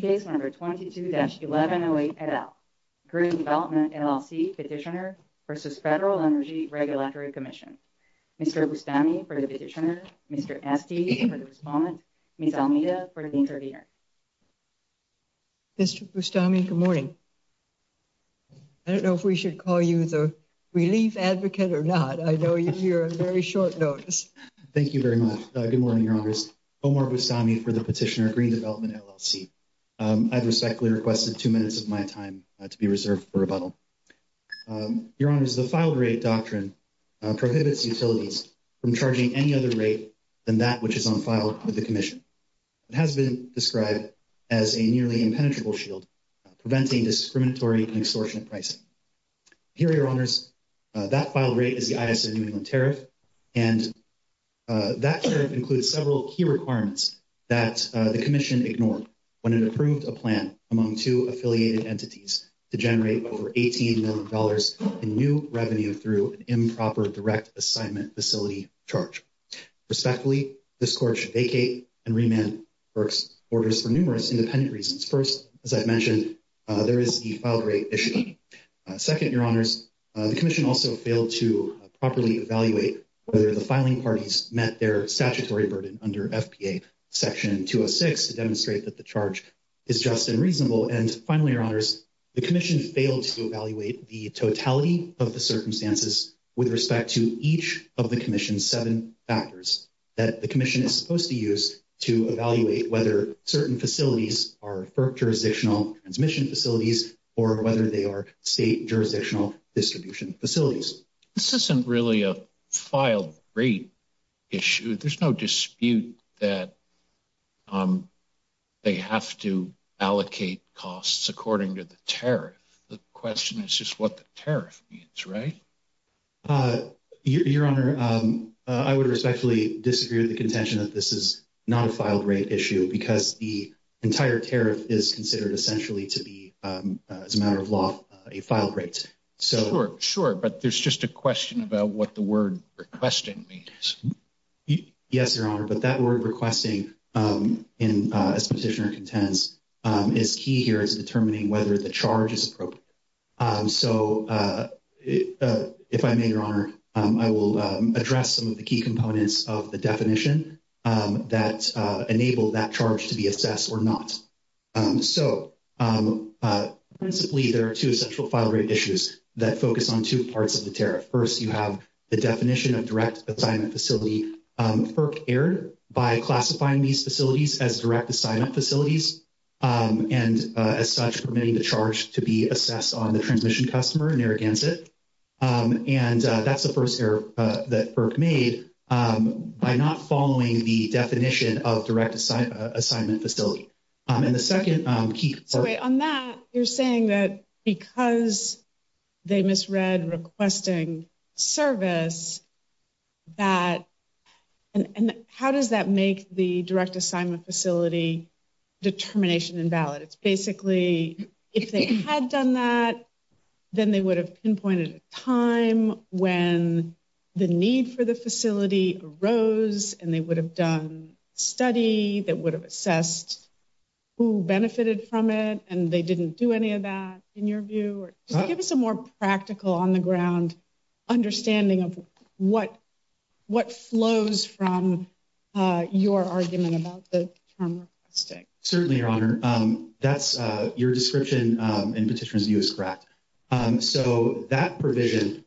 Case number 22-1108 et al. Green Development, LLC Petitioner v. Federal Energy Regulatory Commission. Mr. Bustami for the petitioner, Mr. Esty for the respondent, Ms. Almeida for the intervener. Mr. Bustami, good morning. I don't know if we should call you the relief advocate or not. I know you're here on very short notice. Thank you very much. Good morning, Congress. My name is Omar Bustami for the petitioner of Green Development, LLC. I've respectfully requested two minutes of my time to be reserved for rebuttal. Your Honor, the filed rate doctrine prohibits utilities from charging any other rate than that which is on file with the Commission. It has been described as a nearly impenetrable shield, preventing discriminatory and extortionate pricing. Here, Your Honors, that filed rate is the ISA New England tariff, and that includes several key requirements that the Commission ignored when it approved a plan among two affiliated entities to generate over $18 million in new revenue through an improper direct assignment facility charge. Respectfully, this Court should vacate and remand FERC's orders for numerous independent reasons. First, as I've mentioned, there is the filed rate issue. Second, Your Honors, the Commission also failed to properly evaluate whether the filing parties met their statutory burden under FPA Section 206 to demonstrate that the charge is just and reasonable. And finally, Your Honors, the Commission failed to evaluate the totality of the circumstances with respect to each of the Commission's seven factors that the Commission is supposed to use to evaluate whether certain facilities are FERC jurisdictional transmission facilities or whether they are state jurisdictional distribution facilities. This isn't really a filed rate issue. There's no dispute that they have to allocate costs according to the tariff. The question is just what the tariff means, right? Your Honor, I would respectfully disagree with the contention that this is not a filed rate issue because the entire tariff is considered essentially to be, as a matter of law, a filed rate. Sure, sure, but there's just a question about what the word requesting means. Yes, Your Honor, but that word requesting, as Petitioner contends, is key here is determining whether the charge is appropriate. So if I may, Your Honor, I will address some of the key components of the definition that enable that charge to be assessed or not. So, principally, there are two essential filed rate issues that focus on two parts of the tariff. First, you have the definition of direct assignment facility. FERC erred by classifying these facilities as direct assignment facilities and, as such, permitting the charge to be assessed on the transmission customer, Narragansett. And that's the first error that FERC made by not following the definition of direct assignment facility. And the second key part. So, wait, on that, you're saying that because they misread requesting service, that, and how does that make the direct assignment facility determination invalid? It's basically, if they had done that, then they would have pinpointed a time when the need for the facility arose and they would have done a study that would have assessed who benefited from it and they didn't do any of that, in your view, or just give us a more practical on the ground understanding of what flows from your argument about the term requesting. Certainly, Your Honor. That's your description and Petitioner's view is correct. So, that provision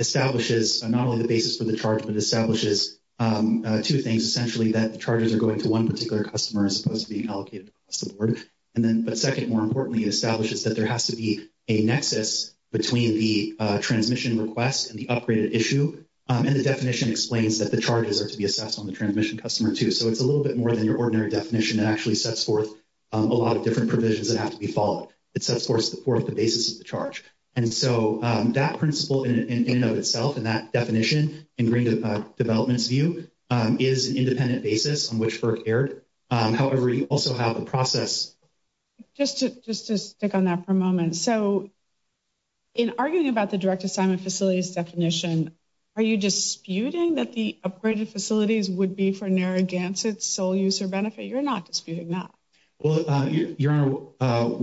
establishes not only the basis for the charge, but establishes two things. Essentially, that the charges are going to one particular customer as opposed to being allocated across the board. And then, but second, more importantly, it establishes that there has to be a nexus between the transmission request and the upgraded issue. And the definition explains that the charges are to be assessed on the transmission customer, too. So, it's a little bit more than your ordinary definition that actually sets forth a lot of different provisions that have to be followed. It sets forth the basis of the charge. And so, that principle, in and of itself, in that definition, in Green Development's view, is an independent basis on which FERC erred. However, you also have the process. Just to stick on that for a moment. So, in arguing about the direct assignment facilities definition, are you disputing that the upgraded facilities would be for Narragansett's sole use or benefit? You're not disputing that. Well, Your Honor,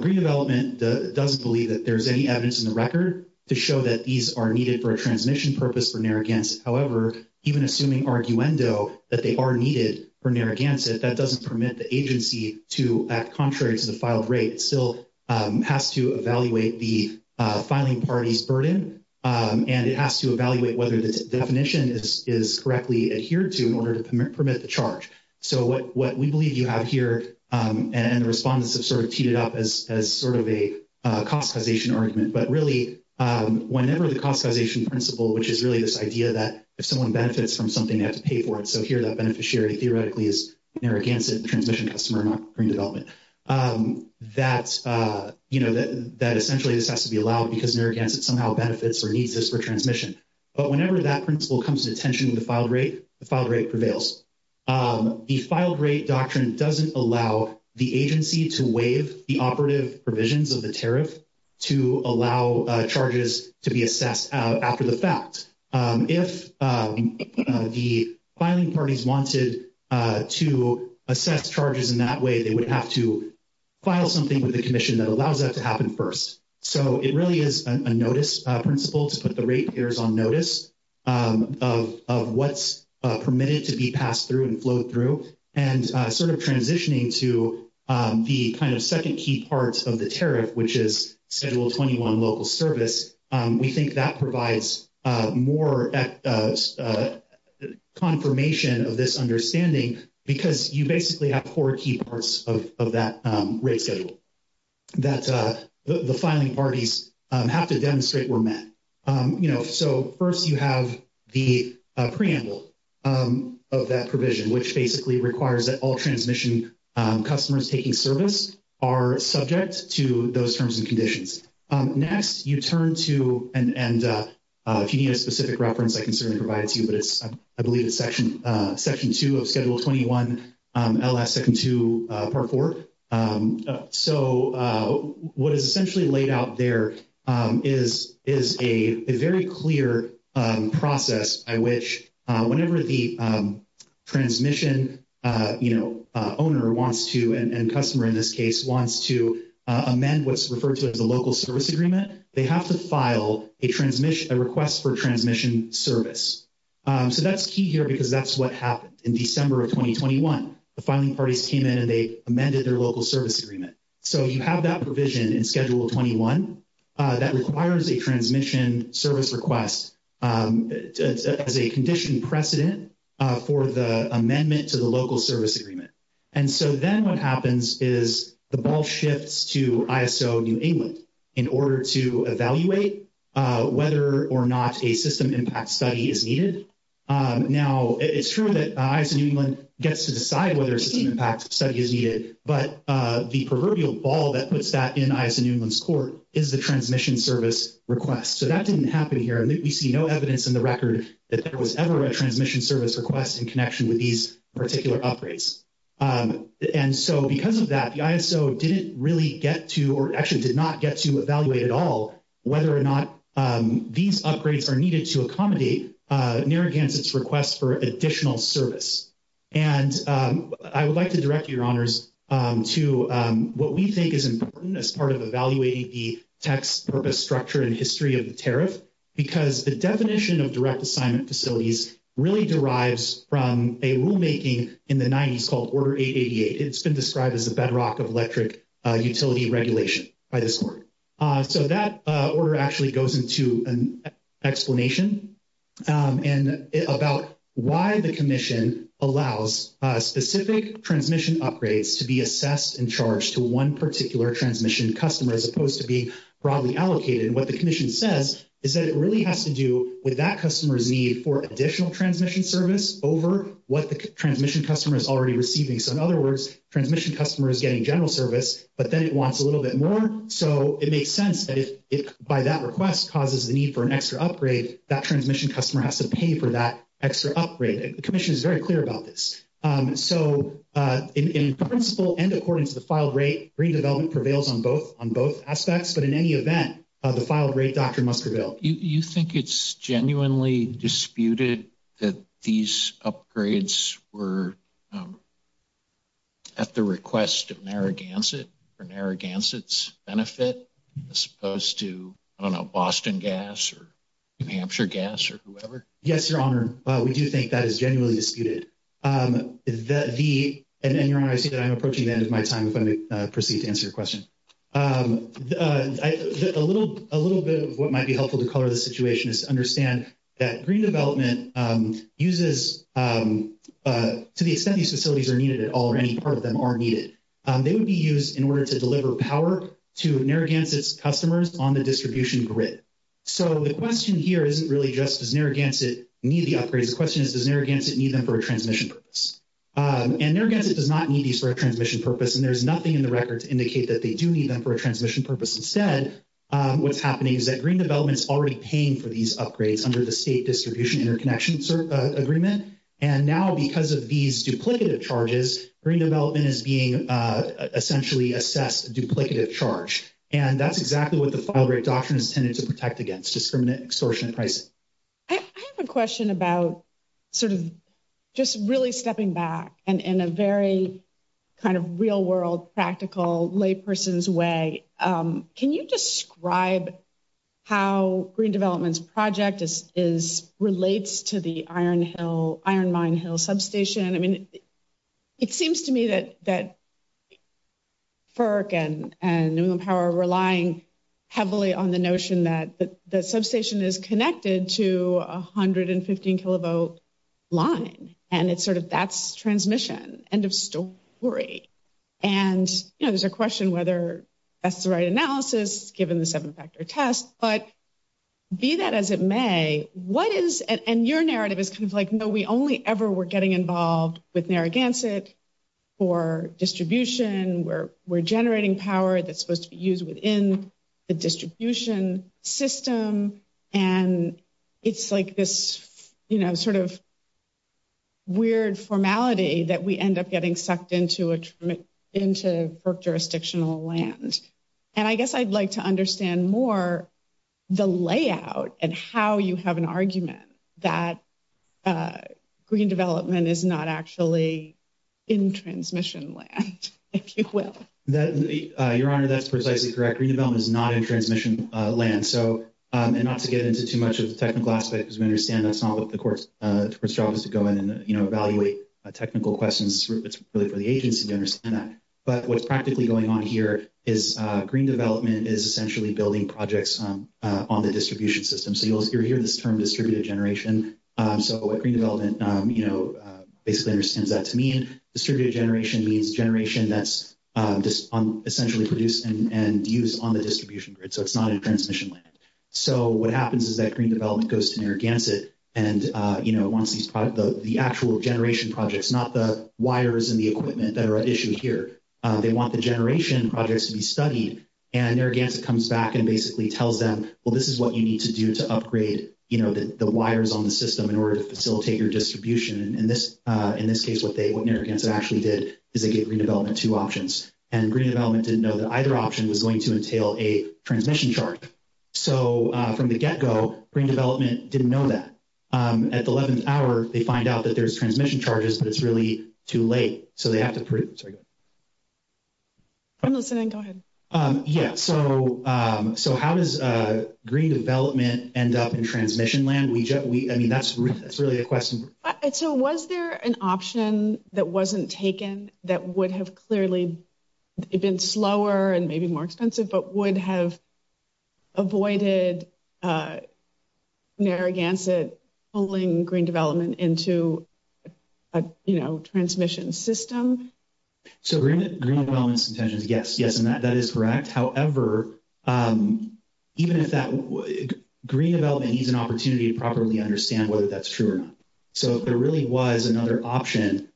Green Development doesn't believe that there's any evidence in the record to show that these are needed for a transmission purpose for Narragansett. However, even assuming arguendo, that they are needed for Narragansett, that doesn't permit the agency to act contrary to the filed rate. It still has to evaluate the filing party's burden, and it has to evaluate whether the definition is correctly adhered to in order to permit the charge. So, what we believe you have here, and the respondents have sort of teed it up as sort of a cost causation argument, but really, whenever the cost causation principle, which is really this idea that if someone benefits from something, they have to pay for it. So, here, that beneficiary, theoretically, is Narragansett, the transmission customer, not Green Development, that essentially this has to be allowed because Narragansett somehow benefits or needs this for transmission. But whenever that principle comes to attention with the filed rate, the filed rate prevails. The filed rate doctrine doesn't allow the agency to waive the operative provisions of the tariff to allow charges to be assessed after the fact. If the filing parties wanted to assess charges in that way, they would have to file something with the commission that allows that to happen first. So, it really is a notice principle to put the rate payers on notice of what's permitted to be passed through and flowed through, and sort of transitioning to the kind of second key parts of the tariff, which is Schedule 21 local service, we think that provides more confirmation of this understanding because you basically have four key parts of that rate schedule. So, the first one is the preamble that the filing parties have to demonstrate were met. So, first, you have the preamble of that provision, which basically requires that all transmission customers taking service are subject to those terms and conditions. Next, you turn to, and if you need a specific reference, I can certainly provide it to you, but I believe it's Section 2 of Schedule 21, LS 2nd 2, Part 4. So, what is essentially laid out there is a very clear process by which whenever the transmission owner wants to, and customer in this case, wants to amend what's referred to as a local service agreement, they have to file a request for transmission service. So, that's key here because that's what happened in December of 2021. The filing parties came in and they amended their local service agreement. So, you have that provision in Schedule 21 that requires a transmission service request as a condition precedent for the amendment to the local service agreement. And so then what happens is the ball shifts to ISO New England in order to evaluate whether or not a system impact study is needed. Now, it's true that ISO New England gets to decide whether a system impact study is needed, but the proverbial ball that puts that in ISO New England's court is the transmission service request. So, that didn't happen here. And we see no evidence in the record that there was ever a transmission service request in connection with these particular upgrades. And so, because of that, the ISO didn't really get to, or actually did not get to evaluate at all whether or not these upgrades are needed to accommodate Narragansett's request for additional service. And I would like to direct your honors to what we think is important as part of evaluating the text purpose structure and history of the tariff. Because the definition of direct assignment facilities really derives from a rulemaking in the 90s called Order 888. It's been described as a bedrock of electric utility regulation by this court. So, that order actually goes into an explanation about why the commission allows specific transmission upgrades to be assessed and charged to one particular transmission customer as opposed to being broadly allocated. And what the commission says is that it really has to do with that customer's need for additional transmission service over what the transmission customer is already receiving. So, in other words, transmission customer is getting general service, but then it wants a little bit more. So, it makes sense that if by that request causes the need for an extra upgrade, that transmission customer has to pay for that extra upgrade. The commission is very clear about this. So, in principle and according to the filed rate, redevelopment prevails on both on both aspects. But in any event, the filed rate, Dr. Musgravelle, you think it's genuinely disputed that these upgrades were at the request of Narragansett for Narragansett's benefit as opposed to, I don't know, Boston Gas or New Hampshire Gas or whoever? Yes, your honor. We do think that is genuinely disputed. And your honor, I see that I'm approaching the end of my time if I may proceed to answer your question. A little bit of what might be helpful to color this situation is to understand that green development uses, to the extent these facilities are needed at all or any part of them are needed, they would be used in order to deliver power to Narragansett's customers on the distribution grid. So, the question here isn't really just, does Narragansett need the upgrades? The question is, does Narragansett need them for a transmission purpose? And Narragansett does not need these for a transmission purpose. And there's nothing in the record to indicate that they do need them for a transmission purpose. Instead, what's happening is that green development is already paying for these upgrades under the state distribution interconnection agreement. And now, because of these duplicative charges, green development is being essentially assessed a duplicative charge. And that's exactly what the filed rate doctrine is intended to protect against, discriminant extortion and pricing. I have a question about sort of just really stepping back and in a very kind of real world practical lay person's way. Can you describe how green development's project relates to the Iron Mine Hill substation? I mean, it seems to me that FERC and New England Power are relying heavily on the notion that the substation is connected to 115 kilovolt line. And it's sort of that's transmission. End of story. And, you know, there's a question whether that's the right analysis given the seven factor test. But be that as it may, what is and your narrative is kind of like, no, we only ever were getting involved with Narragansett for distribution. We're generating power that's supposed to be used within the distribution system. And it's like this, you know, sort of weird formality that we end up getting sucked into a into FERC jurisdictional land. And I guess I'd like to understand more the layout and how you have an argument that green development is not actually in transmission land, if you will. Your Honor, that's precisely correct. Green development is not in transmission land. So and not to get into too much of the technical aspect, because we understand that's not what the court's job is to go in and evaluate technical questions. It's really for the agency to understand that. But what's practically going on here is green development is essentially building projects on the distribution system. So you'll hear this term distributed generation. So what green development, you know, basically understands that to mean distributed generation means generation that's essentially produced and used on the distribution grid. So it's not in transmission land. So what happens is that green development goes to Narragansett and, you know, wants the actual generation projects, not the wires and the equipment that are issued here. They want the generation projects to be studied. And Narragansett comes back and basically tells them, well, this is what you need to do to upgrade, you know, the wires on the system in order to facilitate your distribution. And in this case what Narragansett actually did is they gave green development two options. And green development didn't know that either option was going to entail a transmission charge. So from the get go, green development didn't know that. At the 11th hour, they find out that there's transmission charges, but it's really too late. So they have to – sorry. I'm listening. Go ahead. Yeah. So how does green development end up in transmission land? I mean, that's really a question. So was there an option that wasn't taken that would have clearly been slower and maybe more expensive, but would have avoided Narragansett pulling green development into a, you know, transmission system? So green development's intentions, yes. Yes, and that is correct. However, even if that – green development needs an opportunity to properly understand whether that's true or not. So if there really was another option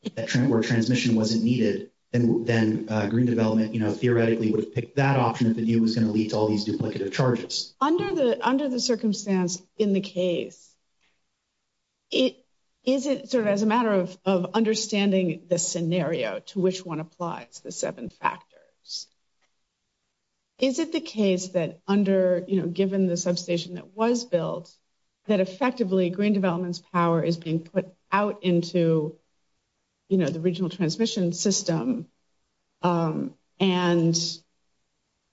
where transmission wasn't needed, then green development, you know, theoretically would have picked that option if the deal was going to lead to all these duplicative charges. Under the circumstance in the case, is it sort of as a matter of understanding the scenario to which one applies, the seven factors, is it the case that under – you know, given the substation that was built, that effectively green development's power is being put out into, you know, the regional transmission system? And,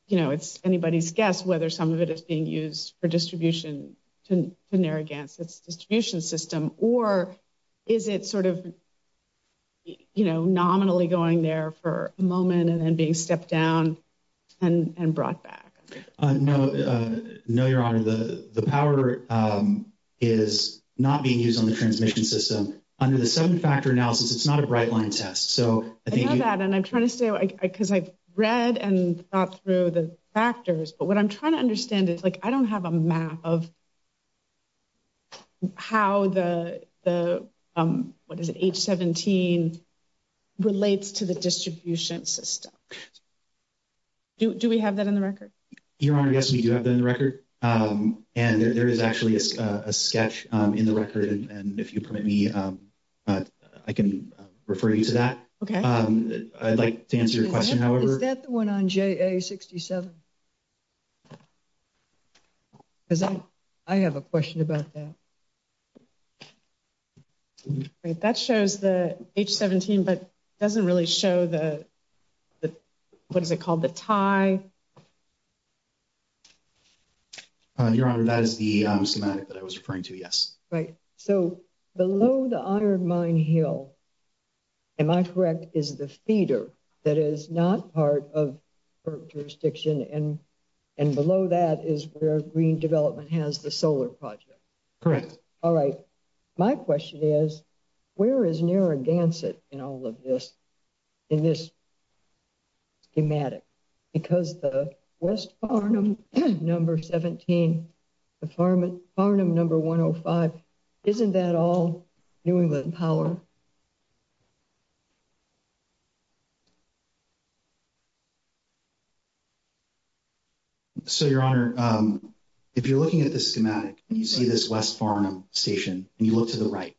you know, it's anybody's guess whether some of it is being used for distribution to Narragansett's distribution system, or is it sort of, you know, nominally going there for a moment and then being stepped down and brought back? No, Your Honor. The power is not being used on the transmission system. Under the seven-factor analysis, it's not a bright-line test. I know that, and I'm trying to stay – because I've read and thought through the factors, but what I'm trying to understand is, like, I don't have a map of how the – what is it – H-17 relates to the distribution system. Do we have that in the record? Your Honor, yes, we do have that in the record, and there is actually a sketch in the record, and if you permit me, I can refer you to that. Okay. I'd like to answer your question, however – Is that the one on JA-67? Because I have a question about that. Great. That shows the H-17, but it doesn't really show the – what is it called? The tie? Your Honor, that is the schematic that I was referring to, yes. Right. So below the Iron Mine Hill, am I correct, is the feeder that is not part of the jurisdiction, and below that is where Green Development has the solar project? Correct. All right. My question is, where is Narragansett in all of this – in this schematic? Because the West Farnham No. 17, the Farnham No. 105, isn't that all New England power? So, Your Honor, if you're looking at this schematic, and you see this West Farnham station, and you look to the right,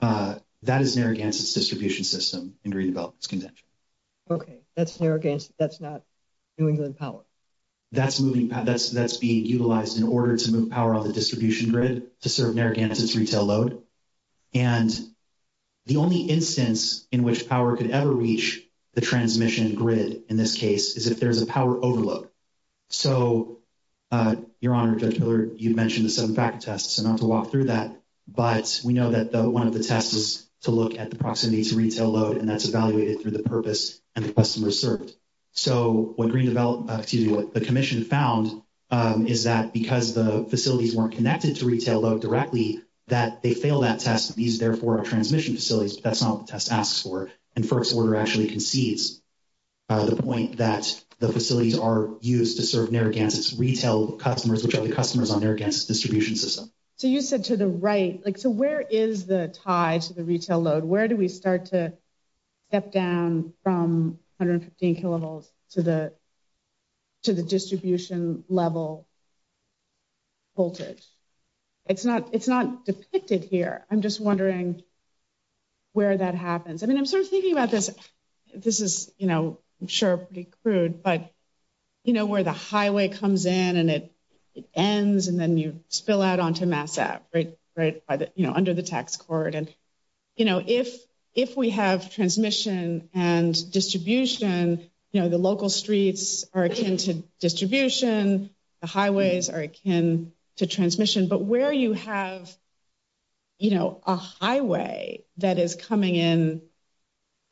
that is Narragansett's distribution system in Green Development's contention. Okay. That's Narragansett. That's not New England power. That's being utilized in order to move power on the distribution grid to serve Narragansett's retail load. And the only instance in which power could ever reach the transmission grid in this case is if there's a power overload. So, Your Honor, Judge Miller, you mentioned the seven-factor test, so not to walk through that, but we know that one of the tests is to look at the proximity to retail load, and that's evaluated through the purpose and the customers served. So, what Green Development – excuse me, what the commission found is that because the facilities weren't connected to retail load directly, that they failed that test. These, therefore, are transmission facilities, but that's not what the test asks for. And FERC's order actually concedes the point that the facilities are used to serve Narragansett's retail customers, which are the customers on Narragansett's distribution system. So, you said to the right – like, so where is the tie to the retail load? Where do we start to step down from 115 kilovolts to the distribution level voltage? It's not depicted here. I'm just wondering where that happens. I mean, I'm sort of thinking about this. This is, you know, I'm sure pretty crude, but, you know, where the highway comes in and it ends and then you spill out onto Mass Ave, right, under the tax cord. You know, if we have transmission and distribution, you know, the local streets are akin to distribution. The highways are akin to transmission. But where you have, you know, a highway that is coming in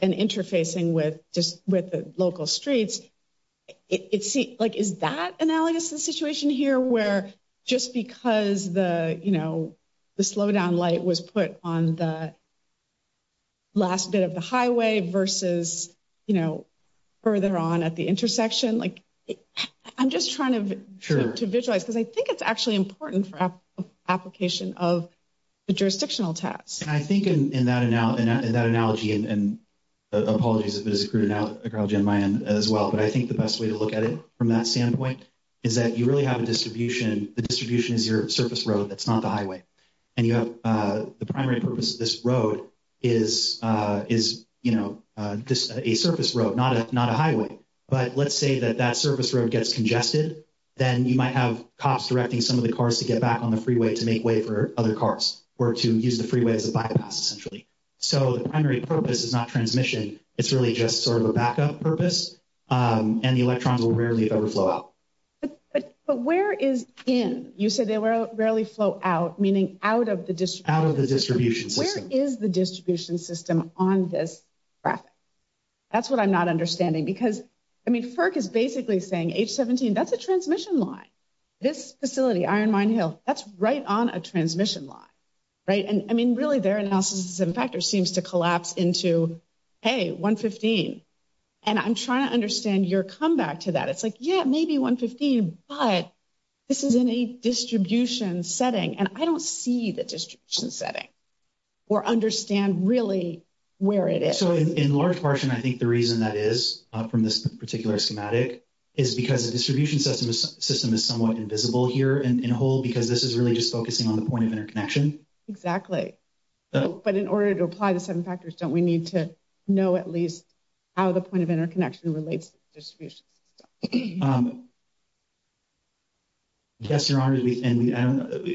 and interfacing with the local streets, like, is that analogous to the situation here where just because the, you know, the slowdown light was put on the last bit of the highway versus, you know, further on at the intersection? I'm just trying to visualize because I think it's actually important for application of the jurisdictional tax. And I think in that analogy – and apologies if it is a crude analogy on my end as well – but I think the best way to look at it from that standpoint is that you really have a distribution. The distribution is your surface road. That's not the highway. And you have the primary purpose of this road is, you know, a surface road, not a highway. But let's say that that surface road gets congested. Then you might have cops directing some of the cars to get back on the freeway to make way for other cars or to use the freeway as a bypass, essentially. So the primary purpose is not transmission. It's really just sort of a backup purpose. And the electrons will rarely ever flow out. But where is in? You said they rarely flow out, meaning out of the distribution system. Out of the distribution system. Where is the distribution system on this graphic? That's what I'm not understanding because, I mean, FERC is basically saying, H-17, that's a transmission line. This facility, Iron Mine Hill, that's right on a transmission line, right? And, I mean, really their analysis of factors seems to collapse into, hey, 115. And I'm trying to understand your comeback to that. It's like, yeah, maybe 115, but this is in a distribution setting. And I don't see the distribution setting or understand really where it is. So in large portion, I think the reason that is from this particular schematic is because the distribution system is somewhat invisible here in whole because this is really just focusing on the point of interconnection. Exactly. But in order to apply the seven factors, don't we need to know at least how the point of interconnection relates to the distribution system? Yes, Your Honor, and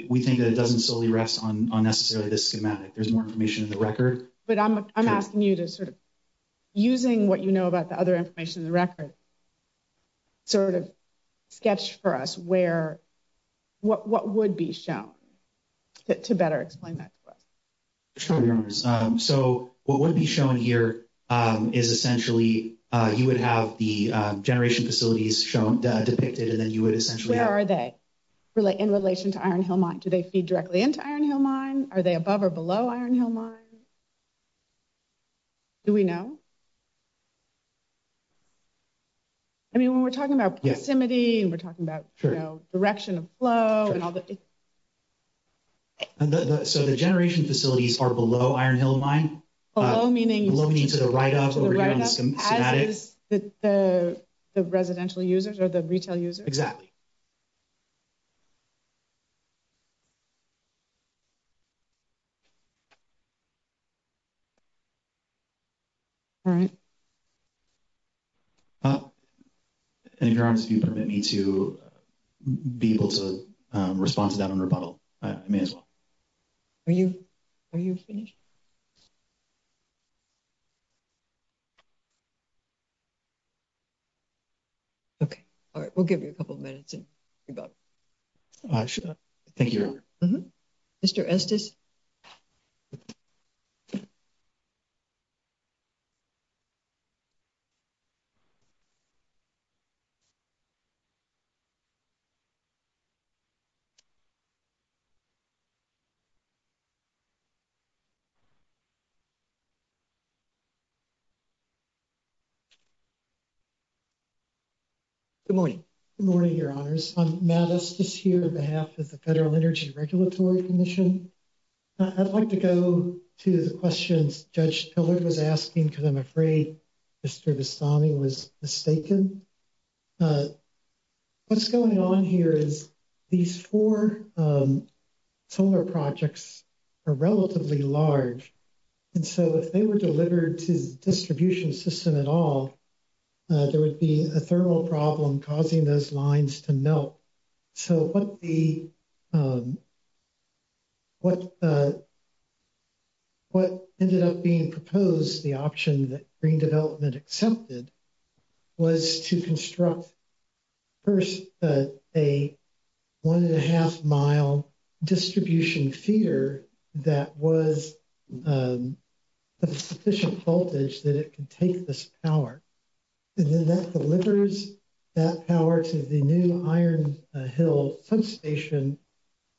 we think that it doesn't solely rest on necessarily this schematic. There's more information in the record. But I'm asking you to sort of, using what you know about the other information in the record, sort of sketch for us where, what would be shown to better explain that to us? Sure, Your Honors. So what would be shown here is essentially, you would have the generation facilities shown, depicted, and then you would essentially. Where are they in relation to Iron Hill Mine? Do they feed directly into Iron Hill Mine? Are they above or below Iron Hill Mine? Do we know? I mean, when we're talking about proximity and we're talking about direction of flow and all that. So the generation facilities are below Iron Hill Mine? Below meaning? Below meaning to the right of over here on the schematic. As is the residential users or the retail users? Exactly. All right. Your Honor, if you permit me to be able to respond to that on rebuttal, I may as well. Are you finished? Okay. All right. We'll give you a couple of minutes and rebuttal. Thank you, Your Honor. Mr. Estes? Good morning. Good morning, Your Honors. I'm Matt Estes here on behalf of the Federal Energy Regulatory Commission. I'd like to go to the questions Judge Pillard was asking because I'm afraid Mr. Vestami was mistaken. What's going on here is these four solar projects are relatively large. And so if they were delivered to the distribution system at all, there would be a thermal problem causing those lines to melt. So what ended up being proposed, the option that Green Development accepted, was to construct first a one-and-a-half-mile distribution feeder that was sufficient voltage that it could take this power. And then that delivers that power to the new Iron Hill substation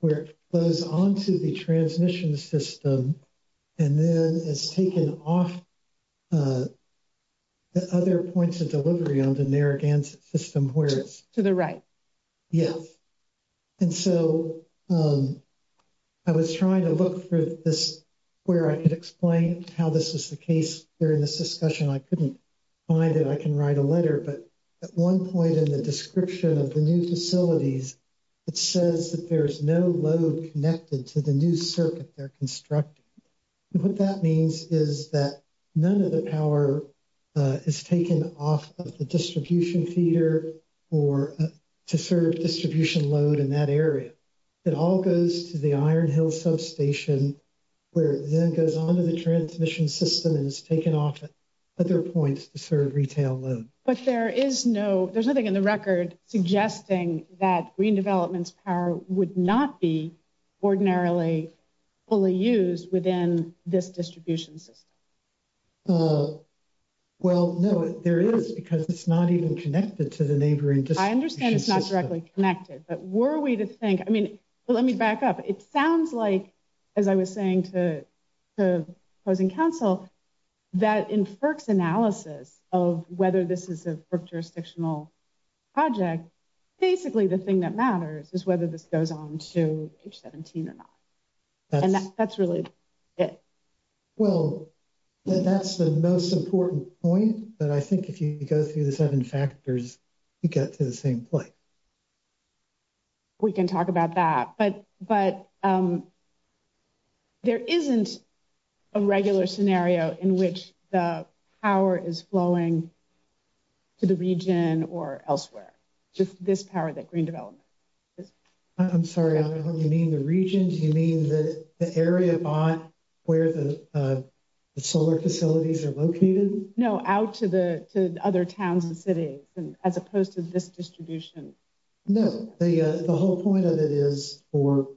where it flows onto the transmission system and then is taken off the other points of delivery on the Narragansett system where it's... To the right. Yes. And so I was trying to look for this where I could explain how this is the case during this discussion. I couldn't find it. I can write a letter. But at one point in the description of the new facilities, it says that there's no load connected to the new circuit they're constructing. What that means is that none of the power is taken off of the distribution feeder to serve distribution load in that area. It all goes to the Iron Hill substation where it then goes onto the transmission system and is taken off at other points to serve retail load. But there is no... There's nothing in the record suggesting that Green Development's power would not be ordinarily fully used within this distribution system. Well, no, there is because it's not even connected to the neighboring distribution system. I understand it's not directly connected. But were we to think... I mean, let me back up. It sounds like, as I was saying to opposing counsel, that in FERC's analysis of whether this is a FERC jurisdictional project, basically the thing that matters is whether this goes on to H-17 or not. And that's really it. Well, that's the most important point. But I think if you go through the seven factors, you get to the same point. We can talk about that. But there isn't a regular scenario in which the power is flowing to the region or elsewhere. Just this power that Green Development... I'm sorry. You mean the region? Do you mean the area where the solar facilities are located? No, out to the other towns and cities as opposed to this distribution. No, the whole point of it is for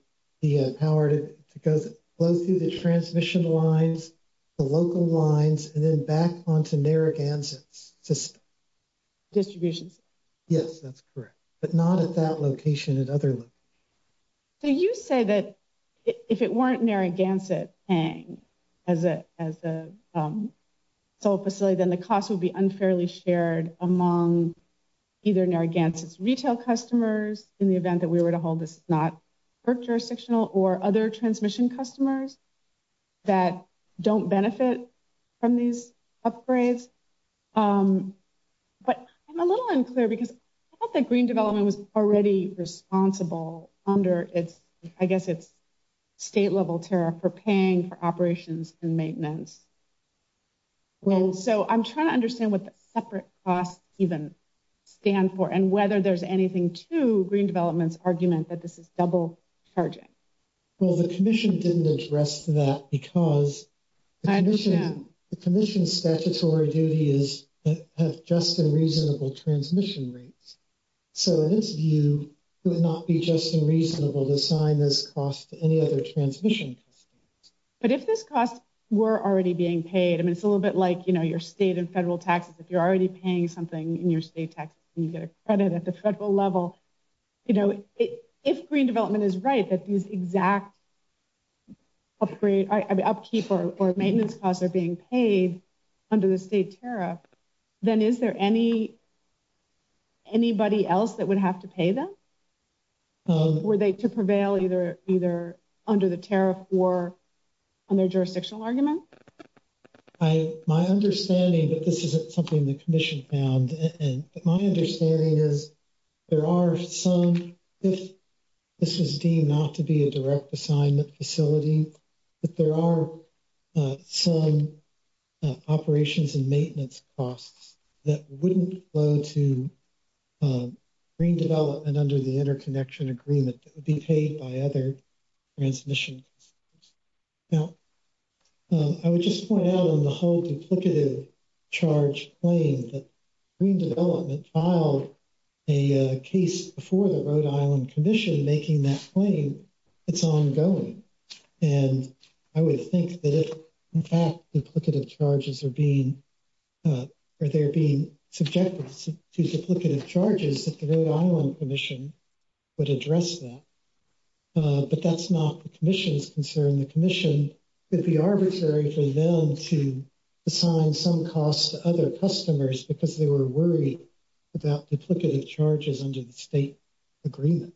the power to go through the transmission lines, the local lines, and then back onto Narragansett's system. Distribution system? Yes, that's correct. But not at that location at other locations. So you say that if it weren't Narragansett paying as a solar facility, then the cost would be unfairly shared among either Narragansett's retail customers in the event that we were to hold this not FERC jurisdictional or other transmission customers that don't benefit from these upgrades. But I'm a little unclear because I thought that Green Development was already responsible under its, I guess, its state level tariff for paying for operations and maintenance. Well, so I'm trying to understand what the separate costs even stand for and whether there's anything to Green Development's argument that this is double charging. Well, the commission didn't address that because the commission's statutory duty is to have just and reasonable transmission rates. So, in its view, it would not be just and reasonable to assign this cost to any other transmission customers. But if this cost were already being paid, I mean, it's a little bit like, you know, your state and federal taxes. If you're already paying something in your state tax, you get a credit at the federal level. But, you know, if Green Development is right that these exact upkeep or maintenance costs are being paid under the state tariff, then is there any, anybody else that would have to pay them? Were they to prevail either under the tariff or on their jurisdictional argument? My understanding that this isn't something the commission found, and my understanding is there are some, if this is deemed not to be a direct assignment facility, that there are some operations and maintenance costs that wouldn't flow to Green Development under the interconnection agreement that would be paid by other transmission customers. Now, I would just point out on the whole duplicative charge claim that Green Development filed a case before the Rhode Island Commission making that claim, it's ongoing. And I would think that if, in fact, duplicative charges are being, or they're being subjected to duplicative charges that the Rhode Island Commission would address that. But that's not the commission's concern. The commission would be arbitrary for them to assign some costs to other customers because they were worried about duplicative charges under the state agreement.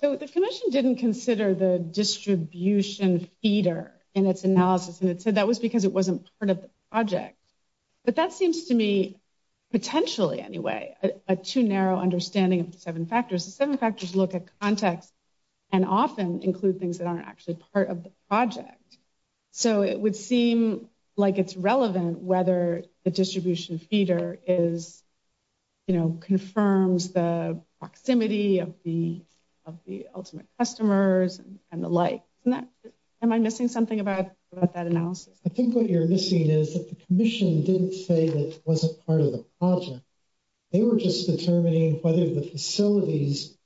So the commission didn't consider the distribution feeder in its analysis, and it said that was because it wasn't part of the project. But that seems to me, potentially anyway, a too narrow understanding of the seven factors. The seven factors look at context and often include things that aren't actually part of the project. So it would seem like it's relevant whether the distribution feeder is, you know, confirms the proximity of the ultimate customers and the like. Am I missing something about that analysis? I think what you're missing is that the commission didn't say that it wasn't part of the project. They were just determining whether the facilities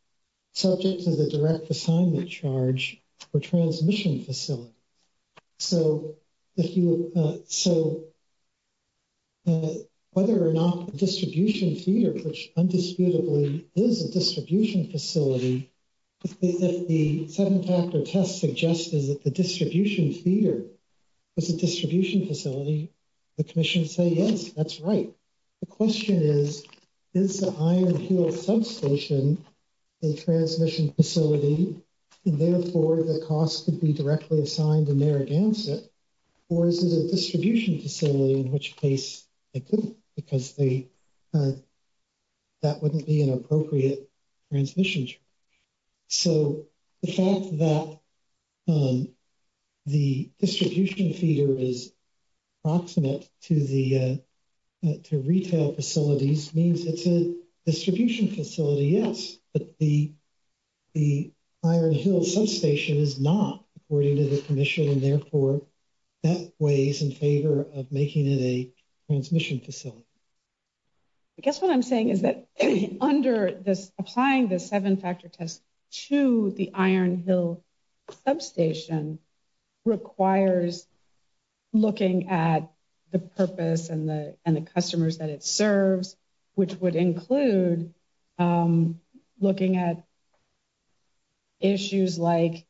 subject to the direct assignment charge were transmission facilities. So, whether or not the distribution feeder, which undisputably is a distribution facility, if the seven factor test suggests that the distribution feeder is a distribution facility, the commission would say, yes, that's right. The question is, is the Iron Heel substation a transmission facility, and therefore the cost could be directly assigned to Narragansett, or is it a distribution facility, in which case it couldn't because that wouldn't be an appropriate transmission charge. So, the fact that the distribution feeder is approximate to retail facilities means it's a distribution facility, yes, but the Iron Heel substation is not, according to the commission, and therefore that weighs in favor of making it a transmission facility. I guess what I'm saying is that under this, applying the seven factor test to the Iron Heel substation requires looking at the purpose and the customers that it serves, which would include looking at issues like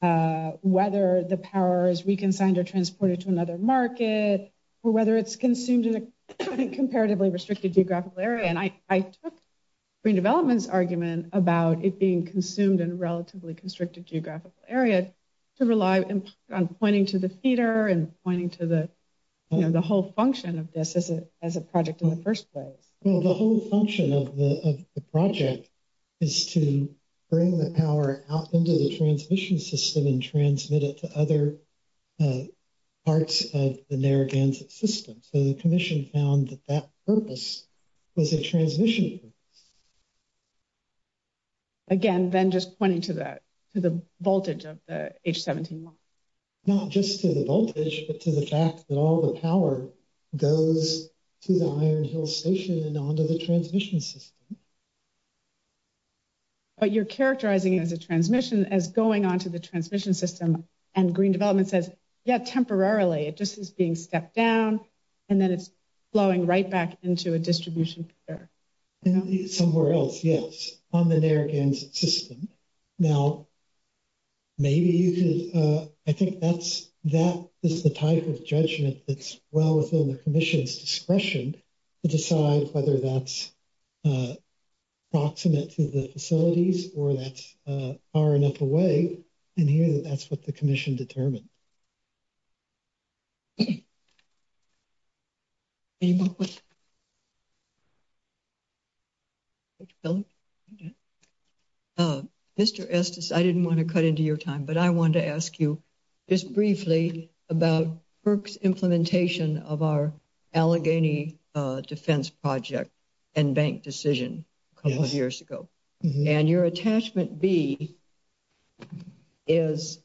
whether the power is reconciled or transported to another market, or whether it's consumed in a comparatively restricted geographical area, and I took Green Development's argument about it being consumed in a relatively constricted geographical area to rely on pointing to the feeder and pointing to the whole function of this as a project in the first place. Well, the whole function of the project is to bring the power out into the transmission system and transmit it to other parts of the Narragansett system, so the commission found that that purpose was a transmission purpose. Again, then just pointing to the voltage of the H-17 line. Not just to the voltage, but to the fact that all the power goes to the Iron Heel station and onto the transmission system. But you're characterizing it as a transmission, as going onto the transmission system, and Green Development says, yeah, temporarily, it just is being stepped down, and then it's flowing right back into a distribution feeder. Somewhere else, yes, on the Narragansett system. Now, maybe you could, I think that is the type of judgment that's well within the commission's discretion to decide whether that's proximate to the facilities or that's far enough away, and here, that's what the commission determined. Okay. Mr. Estes, I didn't want to cut into your time, but I wanted to ask you just briefly about FERC's implementation of our Allegheny defense project and bank decision a couple of years ago. And your attachment B is,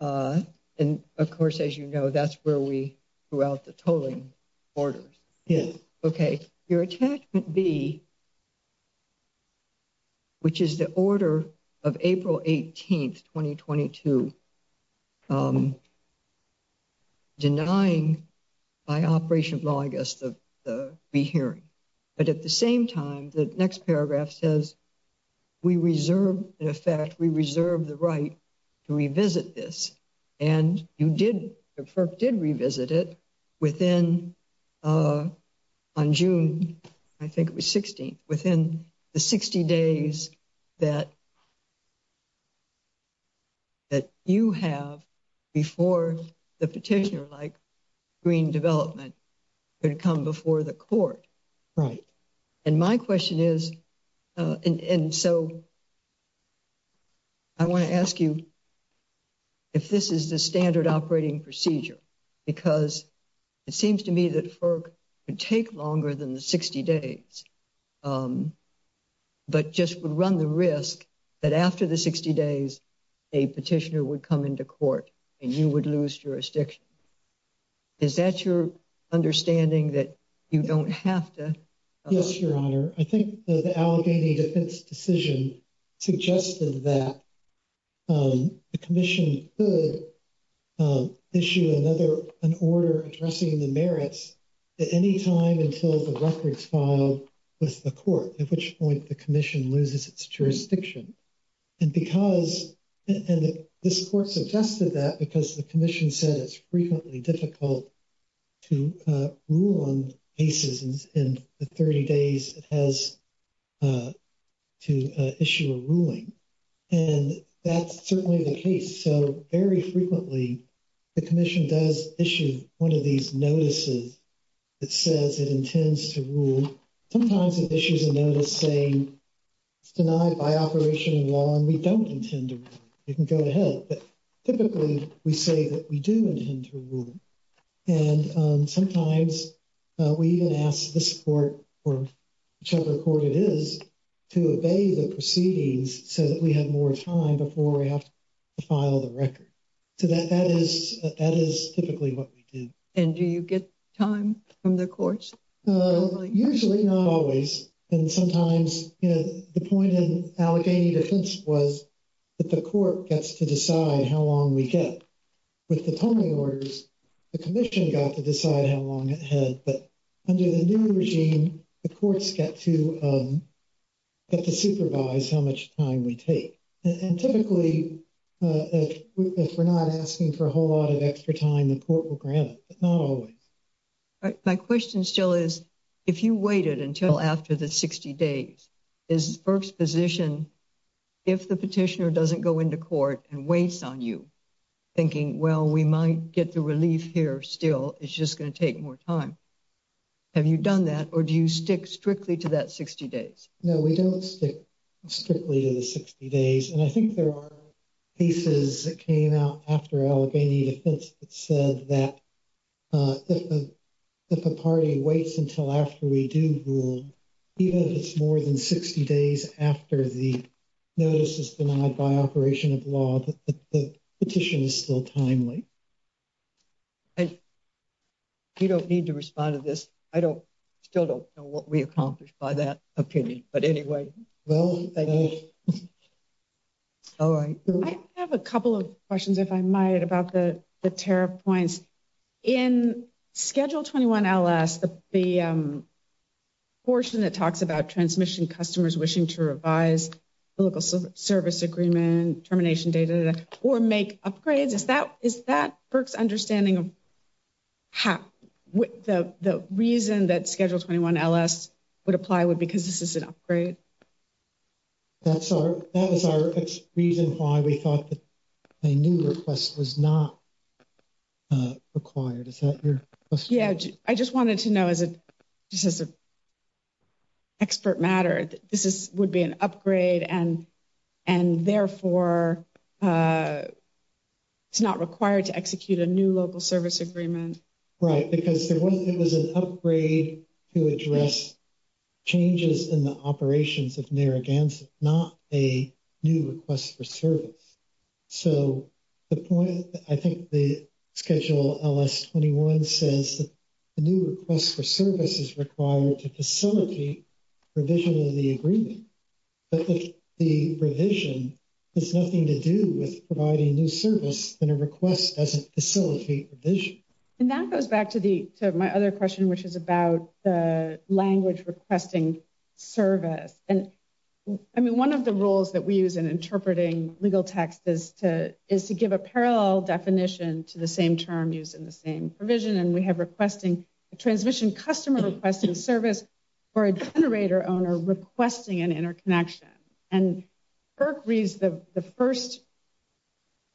and of course, as you know, that's where we threw out the tolling orders. Yes. Okay. Your attachment B, which is the order of April 18, 2022, denying by operation of law, I guess, the rehearing, but at the same time, the next paragraph says, we reserve, in effect, we reserve the right to revisit this. And you did, FERC did revisit it within, on June, I think it was 16th, within the 60 days that you have before the petitioner-like green development could come before the court. Right. And my question is, and so I want to ask you if this is the standard operating procedure, because it seems to me that FERC would take longer than the 60 days, but just would run the risk that after the 60 days, a petitioner would come into court and you would lose jurisdiction. Is that your understanding that you don't have to? Yes, Your Honor. I think the Allegheny defense decision suggested that the commission could issue another, an order addressing the merits at any time until the records file with the court, at which point the commission loses its jurisdiction. And because, and this court suggested that because the commission said it's frequently difficult to rule on cases in the 30 days it has to issue a ruling. And that's certainly the case. So very frequently the commission does issue one of these notices that says it intends to rule. Sometimes it issues a notice saying it's denied by operation in law and we don't intend to rule. You can go ahead, but typically we say that we do intend to rule. And sometimes we even ask this court, or whichever court it is, to obey the proceedings so that we have more time before we have to file the record. So that is typically what we do. And do you get time from the courts? Usually, not always. And sometimes, you know, the point in Allegheny defense was that the court gets to decide how long we get. With the Tony orders, the commission got to decide how long it had, but under the new regime, the courts get to, get to supervise how much time we take. And typically, if we're not asking for a whole lot of extra time, the court will grant it, but not always. My question still is, if you waited until after the 60 days is first position. If the petitioner doesn't go into court and waits on you thinking, well, we might get the relief here. Still, it's just going to take more time. Have you done that or do you stick strictly to that 60 days? No, we don't stick strictly to the 60 days. And I think there are cases that came out after Allegheny defense that said that if the party waits until after we do rule, even if it's more than 60 days after the notice is denied by operation of law, the petition is still timely. You don't need to respond to this. I don't still don't know what we accomplished by that opinion. But anyway, well, thank you. All right, I have a couple of questions if I might about the, the tariff points in schedule 21, the portion that talks about transmission customers wishing to revise local service agreement termination data or make upgrades. Is that is that understanding? The reason that schedule 21 would apply would because this is an upgrade. That's our, that is our reason why we thought that a new request was not required. Is that your question? Yeah, I just wanted to know as a, just as an expert matter, this is would be an upgrade and, and therefore, it's not required to execute a new local service agreement. Right, because there was, it was an upgrade to address changes in the operations of Narragansett, not a new request for service. So, the point, I think the schedule 21 says that the new request for service is required to facilitate revision of the agreement. But the revision has nothing to do with providing new service and a request doesn't facilitate vision. And that goes back to the, to my other question, which is about the language requesting service. And I mean, one of the rules that we use in interpreting legal text is to is to give a parallel definition to the same term used in the same provision. And we have requesting a transmission customer requesting service or a generator owner requesting an interconnection. And the first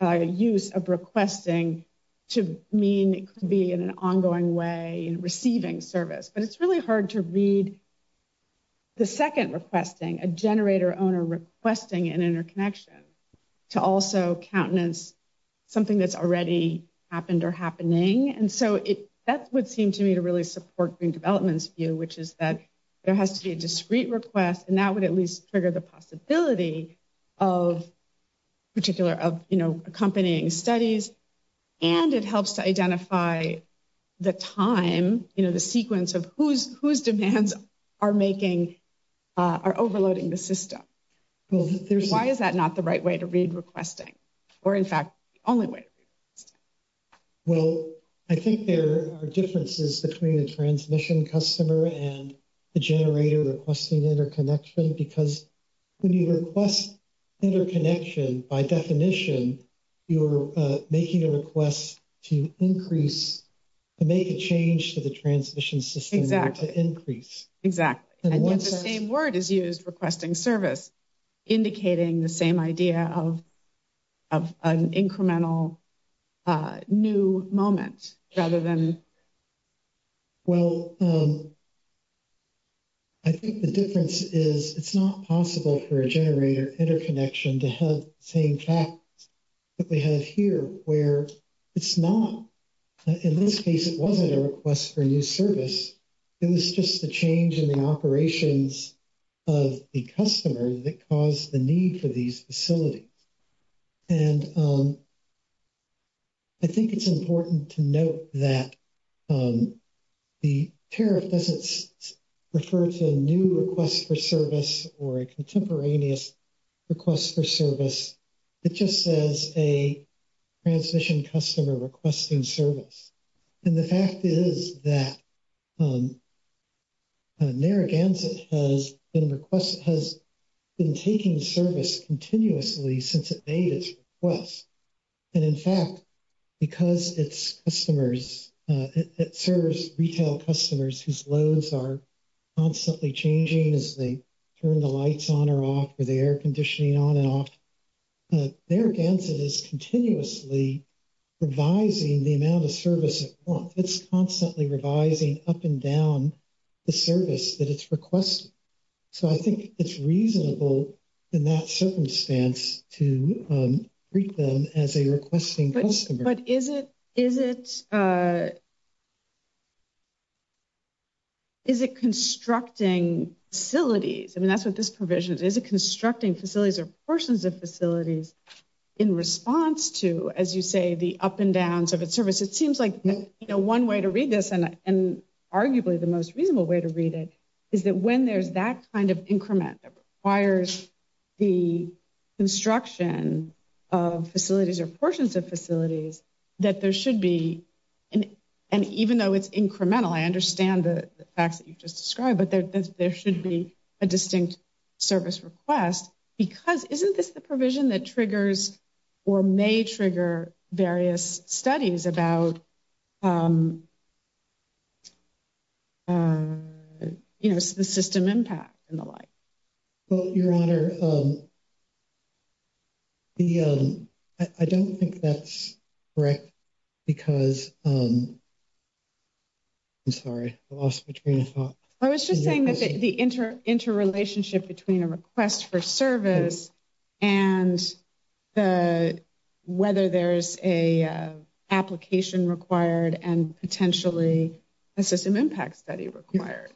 use of requesting to mean it could be in an ongoing way and receiving service. But it's really hard to read the second requesting a generator owner requesting an interconnection to also countenance something that's already happened or happening. And so, that would seem to me to really support Green Development's view, which is that there has to be a discrete request. And that would at least trigger the possibility of particular, of, you know, accompanying studies. And it helps to identify the time, you know, the sequence of whose demands are making, are overloading the system. Why is that not the right way to read requesting or, in fact, the only way? Well, I think there are differences between the transmission customer and the generator requesting interconnection. Because when you request interconnection, by definition, you're making a request to increase, to make a change to the transmission system to increase. Exactly. And yet the same word is used, requesting service, indicating the same idea of an incremental new moment rather than. Well, I think the difference is it's not possible for a generator interconnection to have the same fact that we have here, where it's not. In this case, it wasn't a request for new service. It was just the change in the operations of the customer that caused the need for these facilities. And I think it's important to note that the tariff doesn't refer to a new request for service or a contemporaneous request for service. It just says a transmission customer requesting service. And the fact is that Narragansett has been taking service continuously since it made its request. And, in fact, because it's customers, it serves retail customers whose loads are constantly changing as they turn the lights on or off or the air conditioning on and off. Narragansett is continuously revising the amount of service it wants. It's constantly revising up and down the service that it's requesting. So I think it's reasonable in that circumstance to treat them as a requesting customer. But is it constructing facilities? I mean, that's what this provision is. Is it constructing facilities or portions of facilities in response to, as you say, the up and downs of its service? It seems like one way to read this, and arguably the most reasonable way to read it, is that when there's that kind of increment that requires the construction of facilities or portions of facilities, that there should be. And even though it's incremental, I understand the facts that you've just described, but there should be a distinct service request. Because isn't this the provision that triggers or may trigger various studies about the system impact and the like? Well, Your Honor, I don't think that's correct because, I'm sorry, I lost between a thought. I was just saying that the interrelationship between a request for service and whether there's an application required and potentially a system impact study required.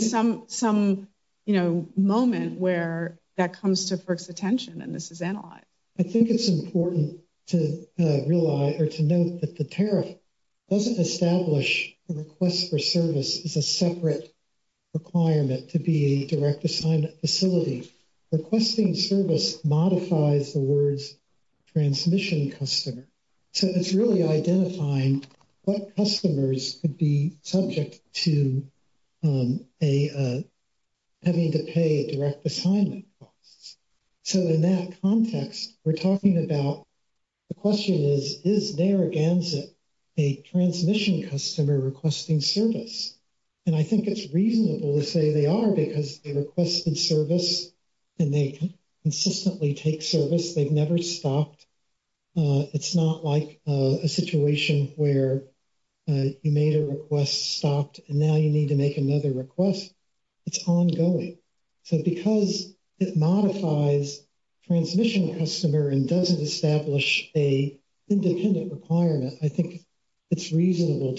Some, you know, moment where that comes to FERC's attention and this is analyzed. I think it's important to realize or to note that the tariff doesn't establish a request for service as a separate requirement to be a direct assignment facility. It's really identifying what customers could be subject to having to pay direct assignment costs. So in that context, we're talking about the question is, is Narragansett a transmission customer requesting service? And I think it's reasonable to say they are because they requested service and they consistently take service. They've never stopped. It's not like a situation where you made a request, stopped, and now you need to make another request. It's ongoing. So because it modifies transmission customer and doesn't establish a independent requirement, I think it's reasonable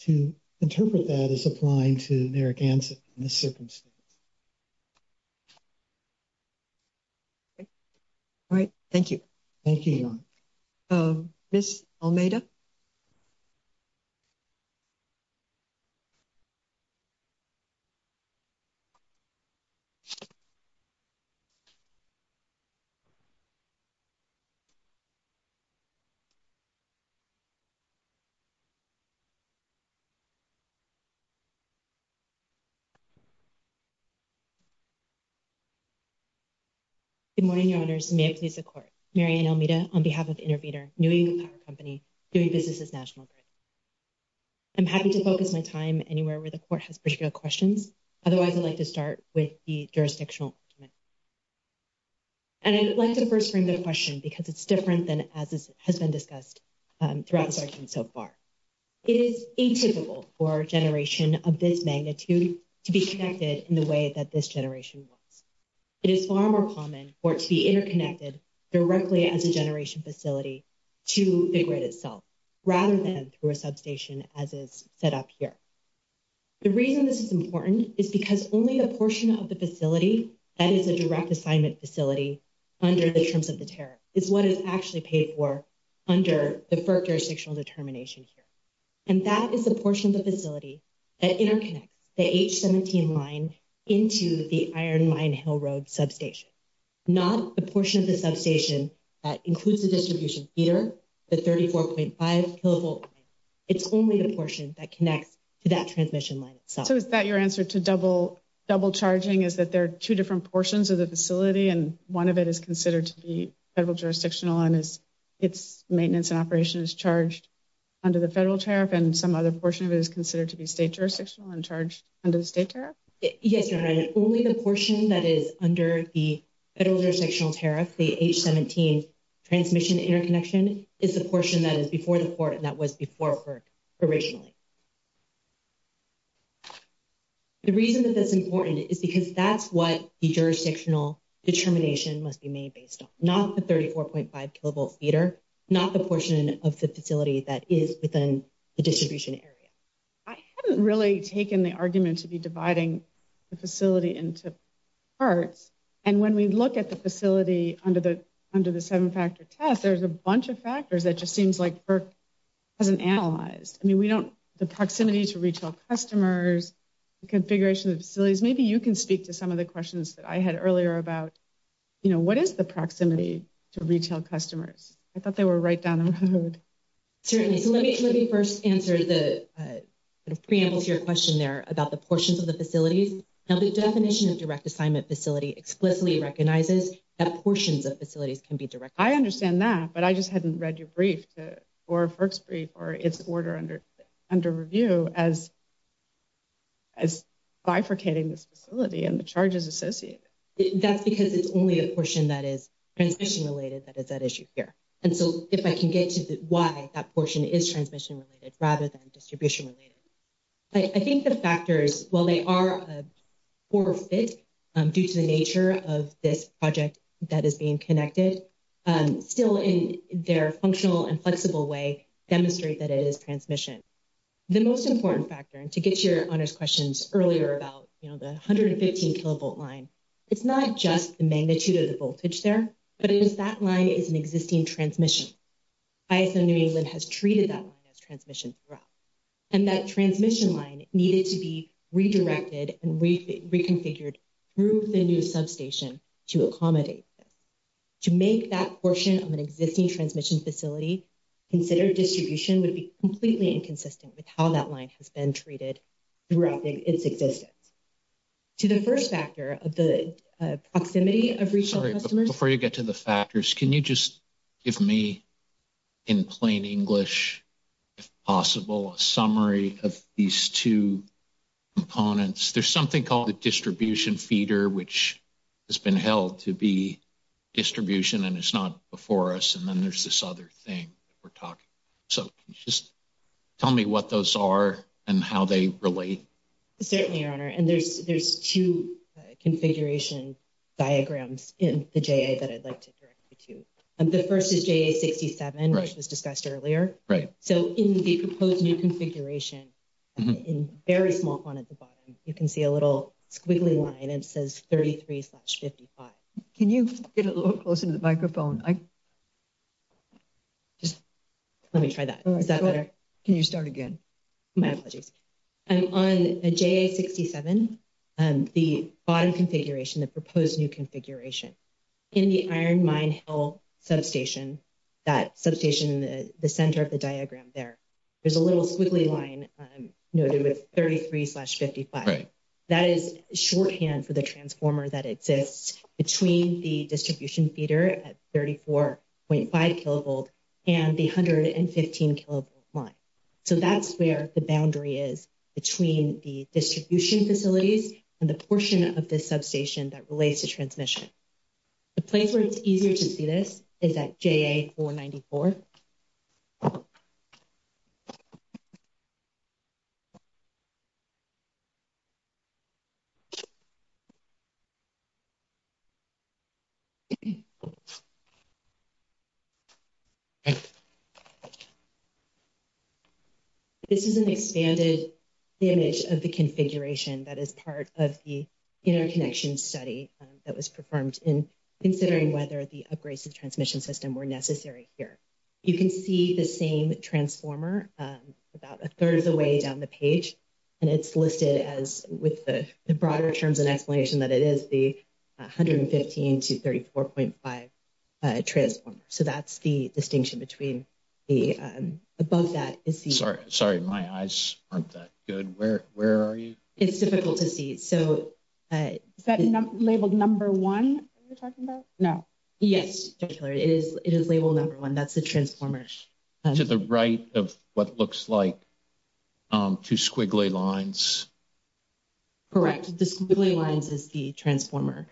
to interpret that as applying to Narragansett in this circumstance. All right. Thank you. Thank you, Your Honor. Ms. Almeida? Good morning, Your Honors. May it please the Court. Marianne Almeida on behalf of Intervener, New England Power Company. I'm happy to focus my time anywhere where the Court has particular questions. Otherwise, I'd like to start with the jurisdictional argument. And I'd like to first frame the question because it's different than has been discussed throughout this argument so far. It is atypical for a generation of this magnitude to be connected in the way that this generation was. It is far more common for it to be interconnected directly as a generation facility to the grid itself, rather than through a substation as is set up here. The reason this is important is because only a portion of the facility that is a direct assignment facility under the terms of the tariff is what is actually paid for under the FERC jurisdictional determination here. And that is the portion of the facility that interconnects the H-17 line into the Iron Mine Hill Road substation, not the portion of the substation that includes the distribution feeder, the 34.5 kilovolt line. It's only the portion that connects to that transmission line itself. So is that your answer to double charging, is that there are two different portions of the facility and one of it is considered to be federal jurisdictional and its maintenance and operation is charged under the federal tariff and some other portion of it is considered to be state jurisdictional and charged under the state tariff? Yes, you're right. Only the portion that is under the federal jurisdictional tariff, the H-17 transmission interconnection, is the portion that is before the court and that was before FERC originally. The reason that that's important is because that's what the jurisdictional determination must be made based on, not the 34.5 kilovolt feeder, not the portion of the facility that is within the distribution area. I haven't really taken the argument to be dividing the facility into parts. And when we look at the facility under the seven-factor test, there's a bunch of factors that just seems like FERC hasn't analyzed. I mean, we don't, the proximity to retail customers, the configuration of the facilities, maybe you can speak to some of the questions that I had earlier about, you know, what is the proximity to retail customers? I thought they were right down the road. Certainly. So let me first answer the preamble to your question there about the portions of the facilities. Now the definition of direct assignment facility explicitly recognizes that portions of facilities can be directed. I understand that, but I just hadn't read your brief or FERC's brief or its order under review as bifurcating this facility and the charges associated. That's because it's only a portion that is transmission related that is at issue here. And so if I can get to why that portion is transmission related rather than distribution related. I think the factors, while they are a poor fit due to the nature of this project that is being connected, still in their functional and flexible way demonstrate that it is transmission. The most important factor, and to get your honors questions earlier about the 115 kilovolt line, it's not just the magnitude of the voltage there, but it is that line is an existing transmission. ISO New England has treated that line as transmission throughout. And that transmission line needed to be redirected and reconfigured through the new substation to accommodate. To make that portion of an existing transmission facility, consider distribution would be completely inconsistent with how that line has been treated throughout its existence. To the first factor of the proximity of retail customers. Before you get to the factors, can you just give me in plain English, if possible, a summary of these two components. There's something called the distribution feeder, which has been held to be distribution and it's not before us. And then there's this other thing we're talking. So just tell me what those are and how they relate. Certainly, your honor, and there's there's two configuration diagrams in the J that I'd like to direct you to. And the first is J67, which was discussed earlier. Right. So in the proposed new configuration in very small at the bottom, you can see a little squiggly line. It says thirty three slash fifty five. Can you get a little closer to the microphone? Just let me try that. Is that better? Can you start again? My apologies. I'm on a J67. The bottom configuration, the proposed new configuration in the iron mine hill substation, that substation, the center of the diagram there, there's a little squiggly line noted with thirty three slash fifty five. That is shorthand for the transformer that exists between the distribution feeder at thirty four point five kilovolt and the hundred and fifteen kilovolt line. So that's where the boundary is between the distribution facilities and the portion of this substation that relates to transmission. The place where it's easier to see this is that J.A. four ninety four. This is an expanded image of the configuration that is part of the interconnection study that was performed in considering whether the upgrades to the transmission system were necessary here. You can see the same transformer about a third of the way down the page. And it's listed as with the broader terms and explanation that it is the hundred and fifteen to thirty four point five transformer. So that's the distinction between the above that. Sorry. Sorry. My eyes aren't that good. Where are you? It's difficult to see. Is that labeled number one you're talking about? No. Yes. It is. It is labeled number one. That's the transformer. To the right of what looks like two squiggly lines. Correct. The squiggly lines is the transformer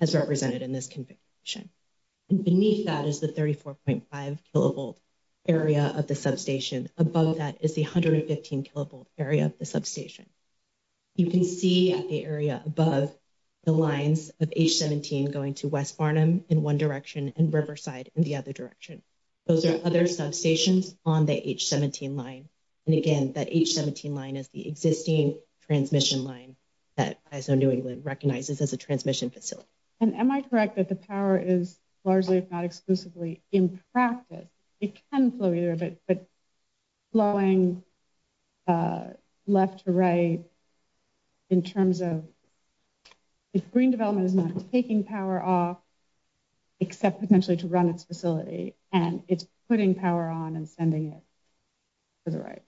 as represented in this configuration. Beneath that is the thirty four point five kilovolt area of the substation. Above that is the hundred and fifteen kilovolt area of the substation. You can see the area above the lines of H. seventeen going to West Barnum in one direction and Riverside in the other direction. Those are other substations on the H. seventeen line. And again, that H. seventeen line is the existing transmission line that ISO New England recognizes as a transmission facility. And am I correct that the power is largely not exclusively in practice? It can flow either of it, but flowing left to right in terms of green development is not taking power off. Except potentially to run its facility and it's putting power on and sending it to the right.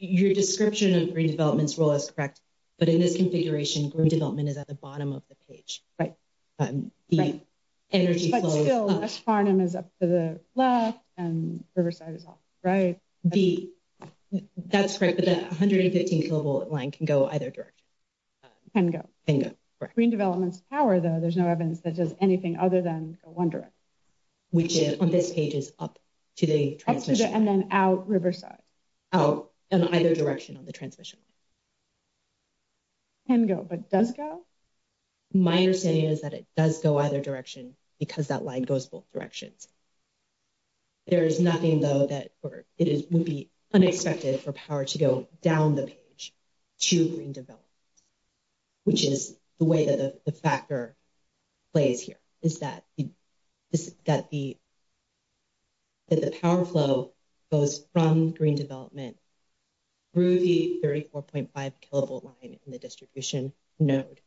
Your description of green development's role is correct, but in this configuration, green development is at the bottom of the page. But the energy is up to the left and Riverside is off. Right. That's great. But the hundred and fifteen kilovolt line can go either direction. Can go. Can go. Green development's power, though, there's no evidence that does anything other than go one direction. Which is on this page is up to the transmission. And then out Riverside. Out in either direction on the transmission line. Can go, but does go? My understanding is that it does go either direction because that line goes both directions. There is nothing, though, that it would be unexpected for power to go down the page to green development. Which is the way that the factor plays here is that that the. The power flow goes from green development. Ruby thirty four point five kilovolt line in the distribution node.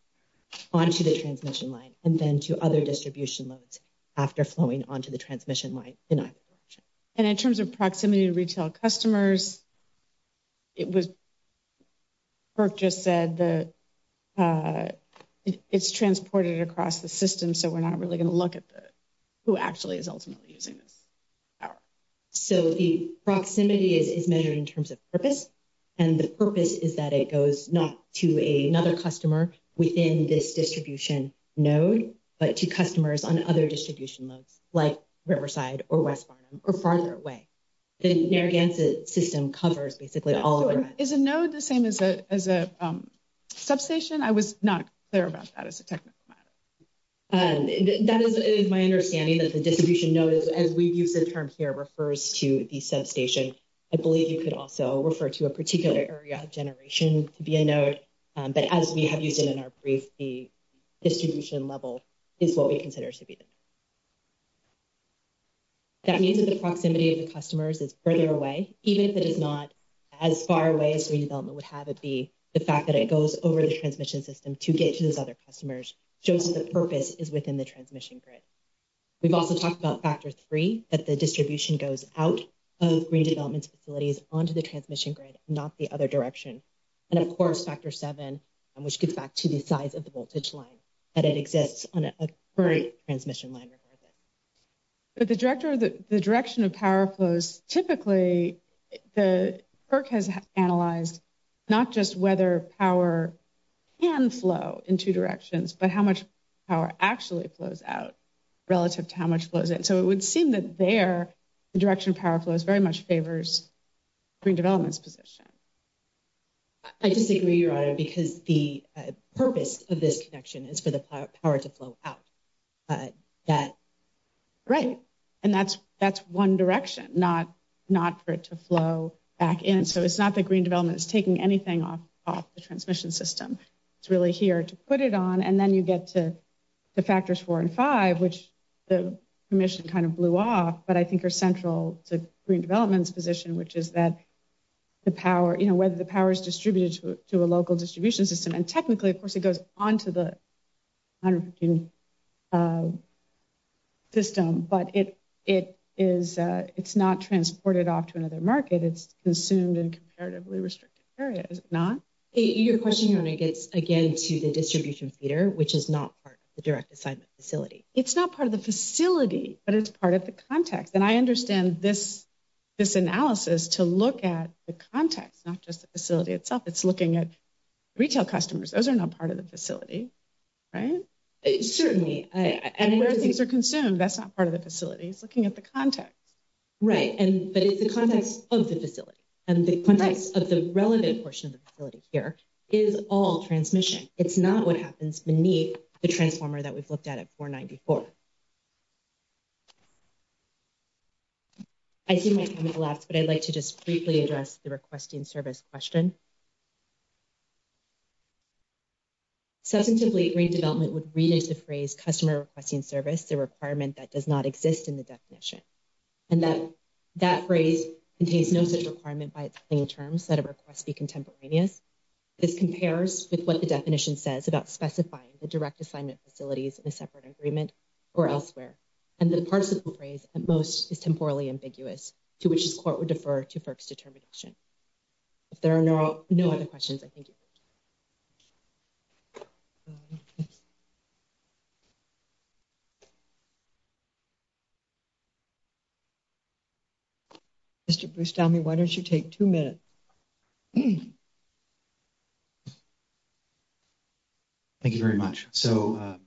On to the transmission line, and then to other distribution loads after flowing onto the transmission line. And in terms of proximity to retail customers. It was just said that it's transported across the system. So, we're not really going to look at the, who actually is ultimately using this. So, the proximity is measured in terms of purpose. And the purpose is that it goes not to another customer within this distribution node, but to customers on other distribution loads, like Riverside or West or farther away. The Narragansett system covers basically all is a node the same as a, as a. Substation I was not there about that as a technical matter. And that is my understanding that the distribution notice as we use the term here refers to the substation. I believe you could also refer to a particular area of generation to be a node, but as we have used it in our brief, the. Distribution level is what we consider to be. That means that the proximity of the customers is further away, even if it is not. As far away as redevelopment would have it be the fact that it goes over the transmission system to get to those other customers shows that the purpose is within the transmission grid. We've also talked about factor 3 that the distribution goes out of redevelopment facilities onto the transmission grid, not the other direction. And, of course, factor 7, which gets back to the size of the voltage line that it exists on a transmission line. But the director of the direction of power flows, typically, the perk has analyzed not just whether power. And flow in 2 directions, but how much power actually flows out relative to how much flows in. So, it would seem that their direction power flows very much favors. Green development's position, I disagree your honor, because the purpose of this connection is for the power to flow out. That right and that's that's 1 direction, not not for it to flow back in. So, it's not the green development is taking anything off the transmission system. It's really here to put it on and then you get to the factors, 4 and 5, which the mission kind of blew off. But I think are central to green development's position, which is that. The power, you know, whether the power is distributed to a local distribution system and technically, of course, it goes onto the. System, but it, it is, it's not transported off to another market. It's consumed and comparatively restricted areas. Not your question gets again to the distribution theater, which is not part of the direct assignment facility. It's not part of the facility, but it's part of the context. And I understand this. This analysis to look at the context, not just the facility itself. It's looking at. Retail customers, those are not part of the facility. Right. Certainly, and where things are consumed, that's not part of the facilities looking at the context. Right and but it's the context of the facility and the context of the relevant portion of the facility here is all transmission. It's not what happens beneath the transformer that we've looked at it for 9 before. I see my last, but I'd like to just briefly address the requesting service question. Substantively redevelopment would reduce the phrase customer requesting service, the requirement that does not exist in the definition. And that that phrase contains no such requirement by terms that a request be contemporaneous. This compares with what the definition says about specifying the direct assignment facilities in a separate agreement. Or elsewhere, and the parts of the phrase at most is temporally ambiguous to which this court would defer to folks determination. If there are no other questions, I think. Mr. Bruce, tell me, why don't you take 2 minutes. Thank you very much. So,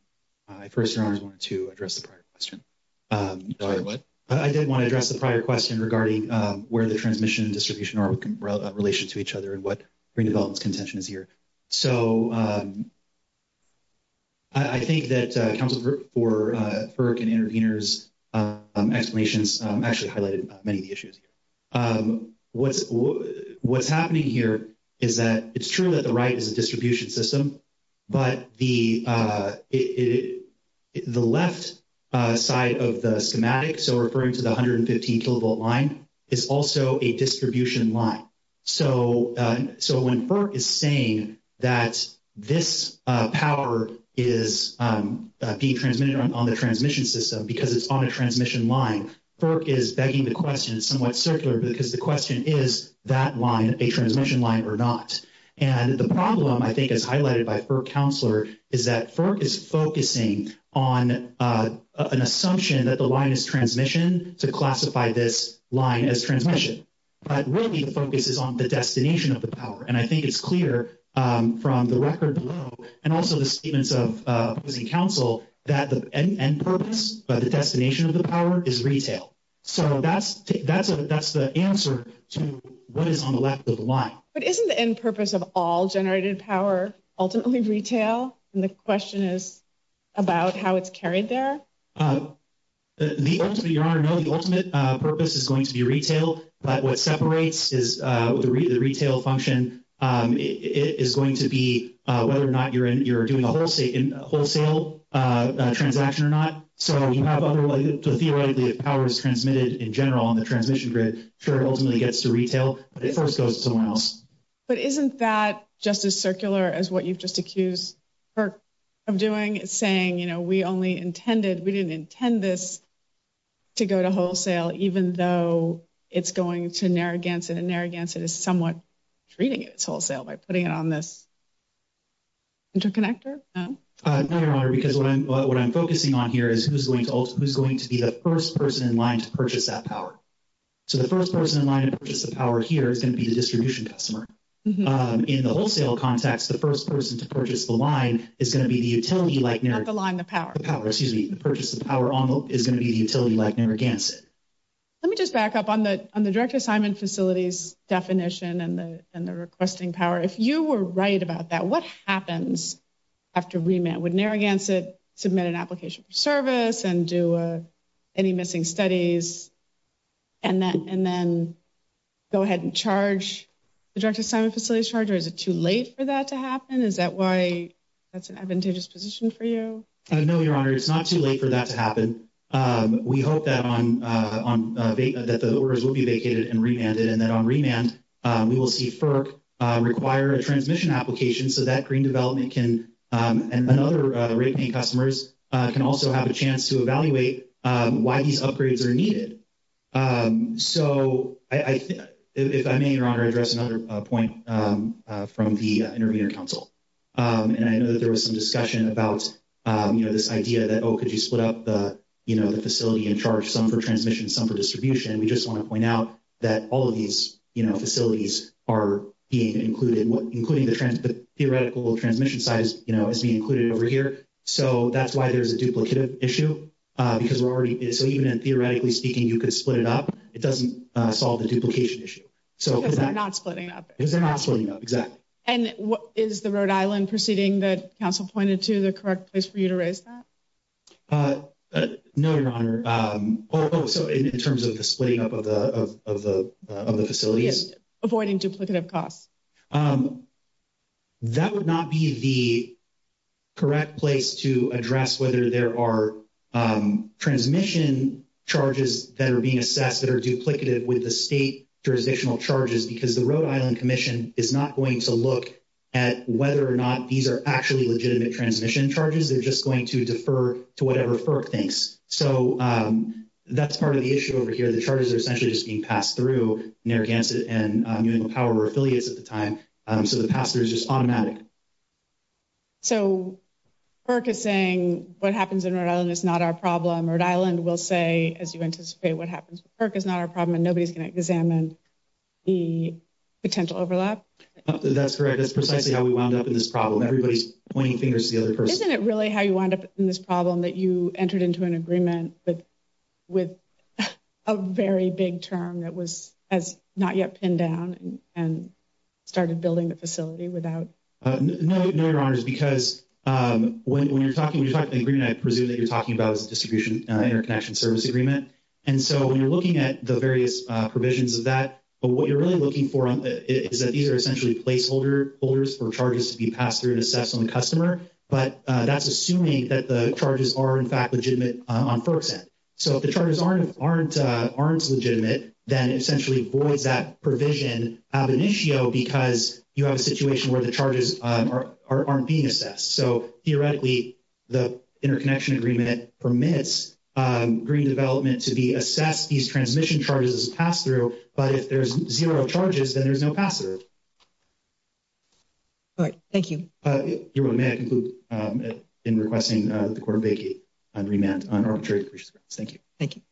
I 1st, I wanted to address the prior question. I didn't want to address the prior question regarding where the transmission distribution or relation to each other and what redevelopment contention is. So, I think that for and intervenors explanations actually highlighted many of the issues. What's what's happening here is that it's true that the right is a distribution system. But the, the left side of the schematic, so referring to the 115 kilovolt line is also a distribution line. So, so when is saying that this power is being transmitted on the transmission system, because it's on a transmission line is begging the question somewhat circular because the question is that line, a transmission line or not. And the problem, I think, is highlighted by for counselor is that is focusing on an assumption that the line is transmission to classify this line as transmission. But really, the focus is on the destination of the power. And I think it's clear from the record and also the statements of council that the purpose of the destination of the power is retail. So, that's that's that's the answer to what is on the left of the line, but isn't the end purpose of all generated power ultimately retail. And the question is about how it's carried there. The ultimate purpose is going to be retail, but what separates is the retail function is going to be whether or not you're in, you're doing a wholesale transaction or not. So, you have other powers transmitted in general on the transmission grid, ultimately gets to retail, but it first goes to someone else. But isn't that just as circular as what you've just accused of doing saying, you know, we only intended we didn't intend this to go to wholesale, even though it's going to Narragansett and Narragansett is somewhat treating it wholesale by putting it on this. Interconnector because what I'm what I'm focusing on here is who's going to who's going to be the 1st person in line to purchase that power. So, the 1st person in line to purchase the power here is going to be the distribution customer in the wholesale context. The 1st person to purchase the line is going to be the utility like the line. The power power. Excuse me. The purchase of power on the is going to be the utility like Narragansett. Let me just back up on the on the direct assignment facilities definition and the, and the requesting power. If you were right about that, what happens? After we met with Narragansett, submit an application for service and do any missing studies. And then and then go ahead and charge the direct assignment facilities charger. Is it too late for that to happen? Is that why that's an advantageous position for you? No, your honor. It's not too late for that to happen. We hope that on on that the orders will be vacated and remanded and then on remand, we will see for require a transmission application. So that green development can and another customers can also have a chance to evaluate why these upgrades are needed. So, I think if I may, your honor address another point from the interviewer council. And I know that there was some discussion about this idea that, oh, could you split up the facility and charge some for transmission some for distribution? We just want to point out that all of these facilities are being included, including the theoretical transmission size is being included over here. So, that's why there's a duplicative issue because we're already so even in theoretically speaking, you could split it up. It doesn't solve the duplication issue. So, because they're not splitting up because they're not splitting up. Exactly. And what is the Rhode Island proceeding that council pointed to the correct place for you to raise that? No, your honor. So, in terms of the splitting up of the, of the, of the facilities, avoiding duplicative costs. That would not be the correct place to address whether there are transmission charges that are being assessed that are duplicative with the state jurisdictional charges because the Rhode Island commission is not going to look. At whether or not these are actually legitimate transmission charges, they're just going to defer to whatever for things. So, that's part of the issue over here. The charges are essentially just being passed through and power affiliates at the time. So, the pastor is just automatic. That's correct. That's precisely how we wound up in this problem. Everybody's pointing fingers to the other person. Isn't it really how you wind up in this problem that you entered into an agreement with with a very big term that was as not yet pinned down and started building the facility without. No, no, your honor is because when you're talking when you're talking green, I presume that you're talking about distribution interconnection service agreement. And so when you're looking at the various provisions of that, but what you're really looking for is that these are essentially placeholder holders for charges to be passed through and assess on the customer. So, theoretically, the interconnection agreement permits green development to be assessed. These transmission charges pass through, but if there's 0 charges, then there's no password. All right, thank you. May I conclude in requesting the court on remand on arbitrary. Thank you. Thank you.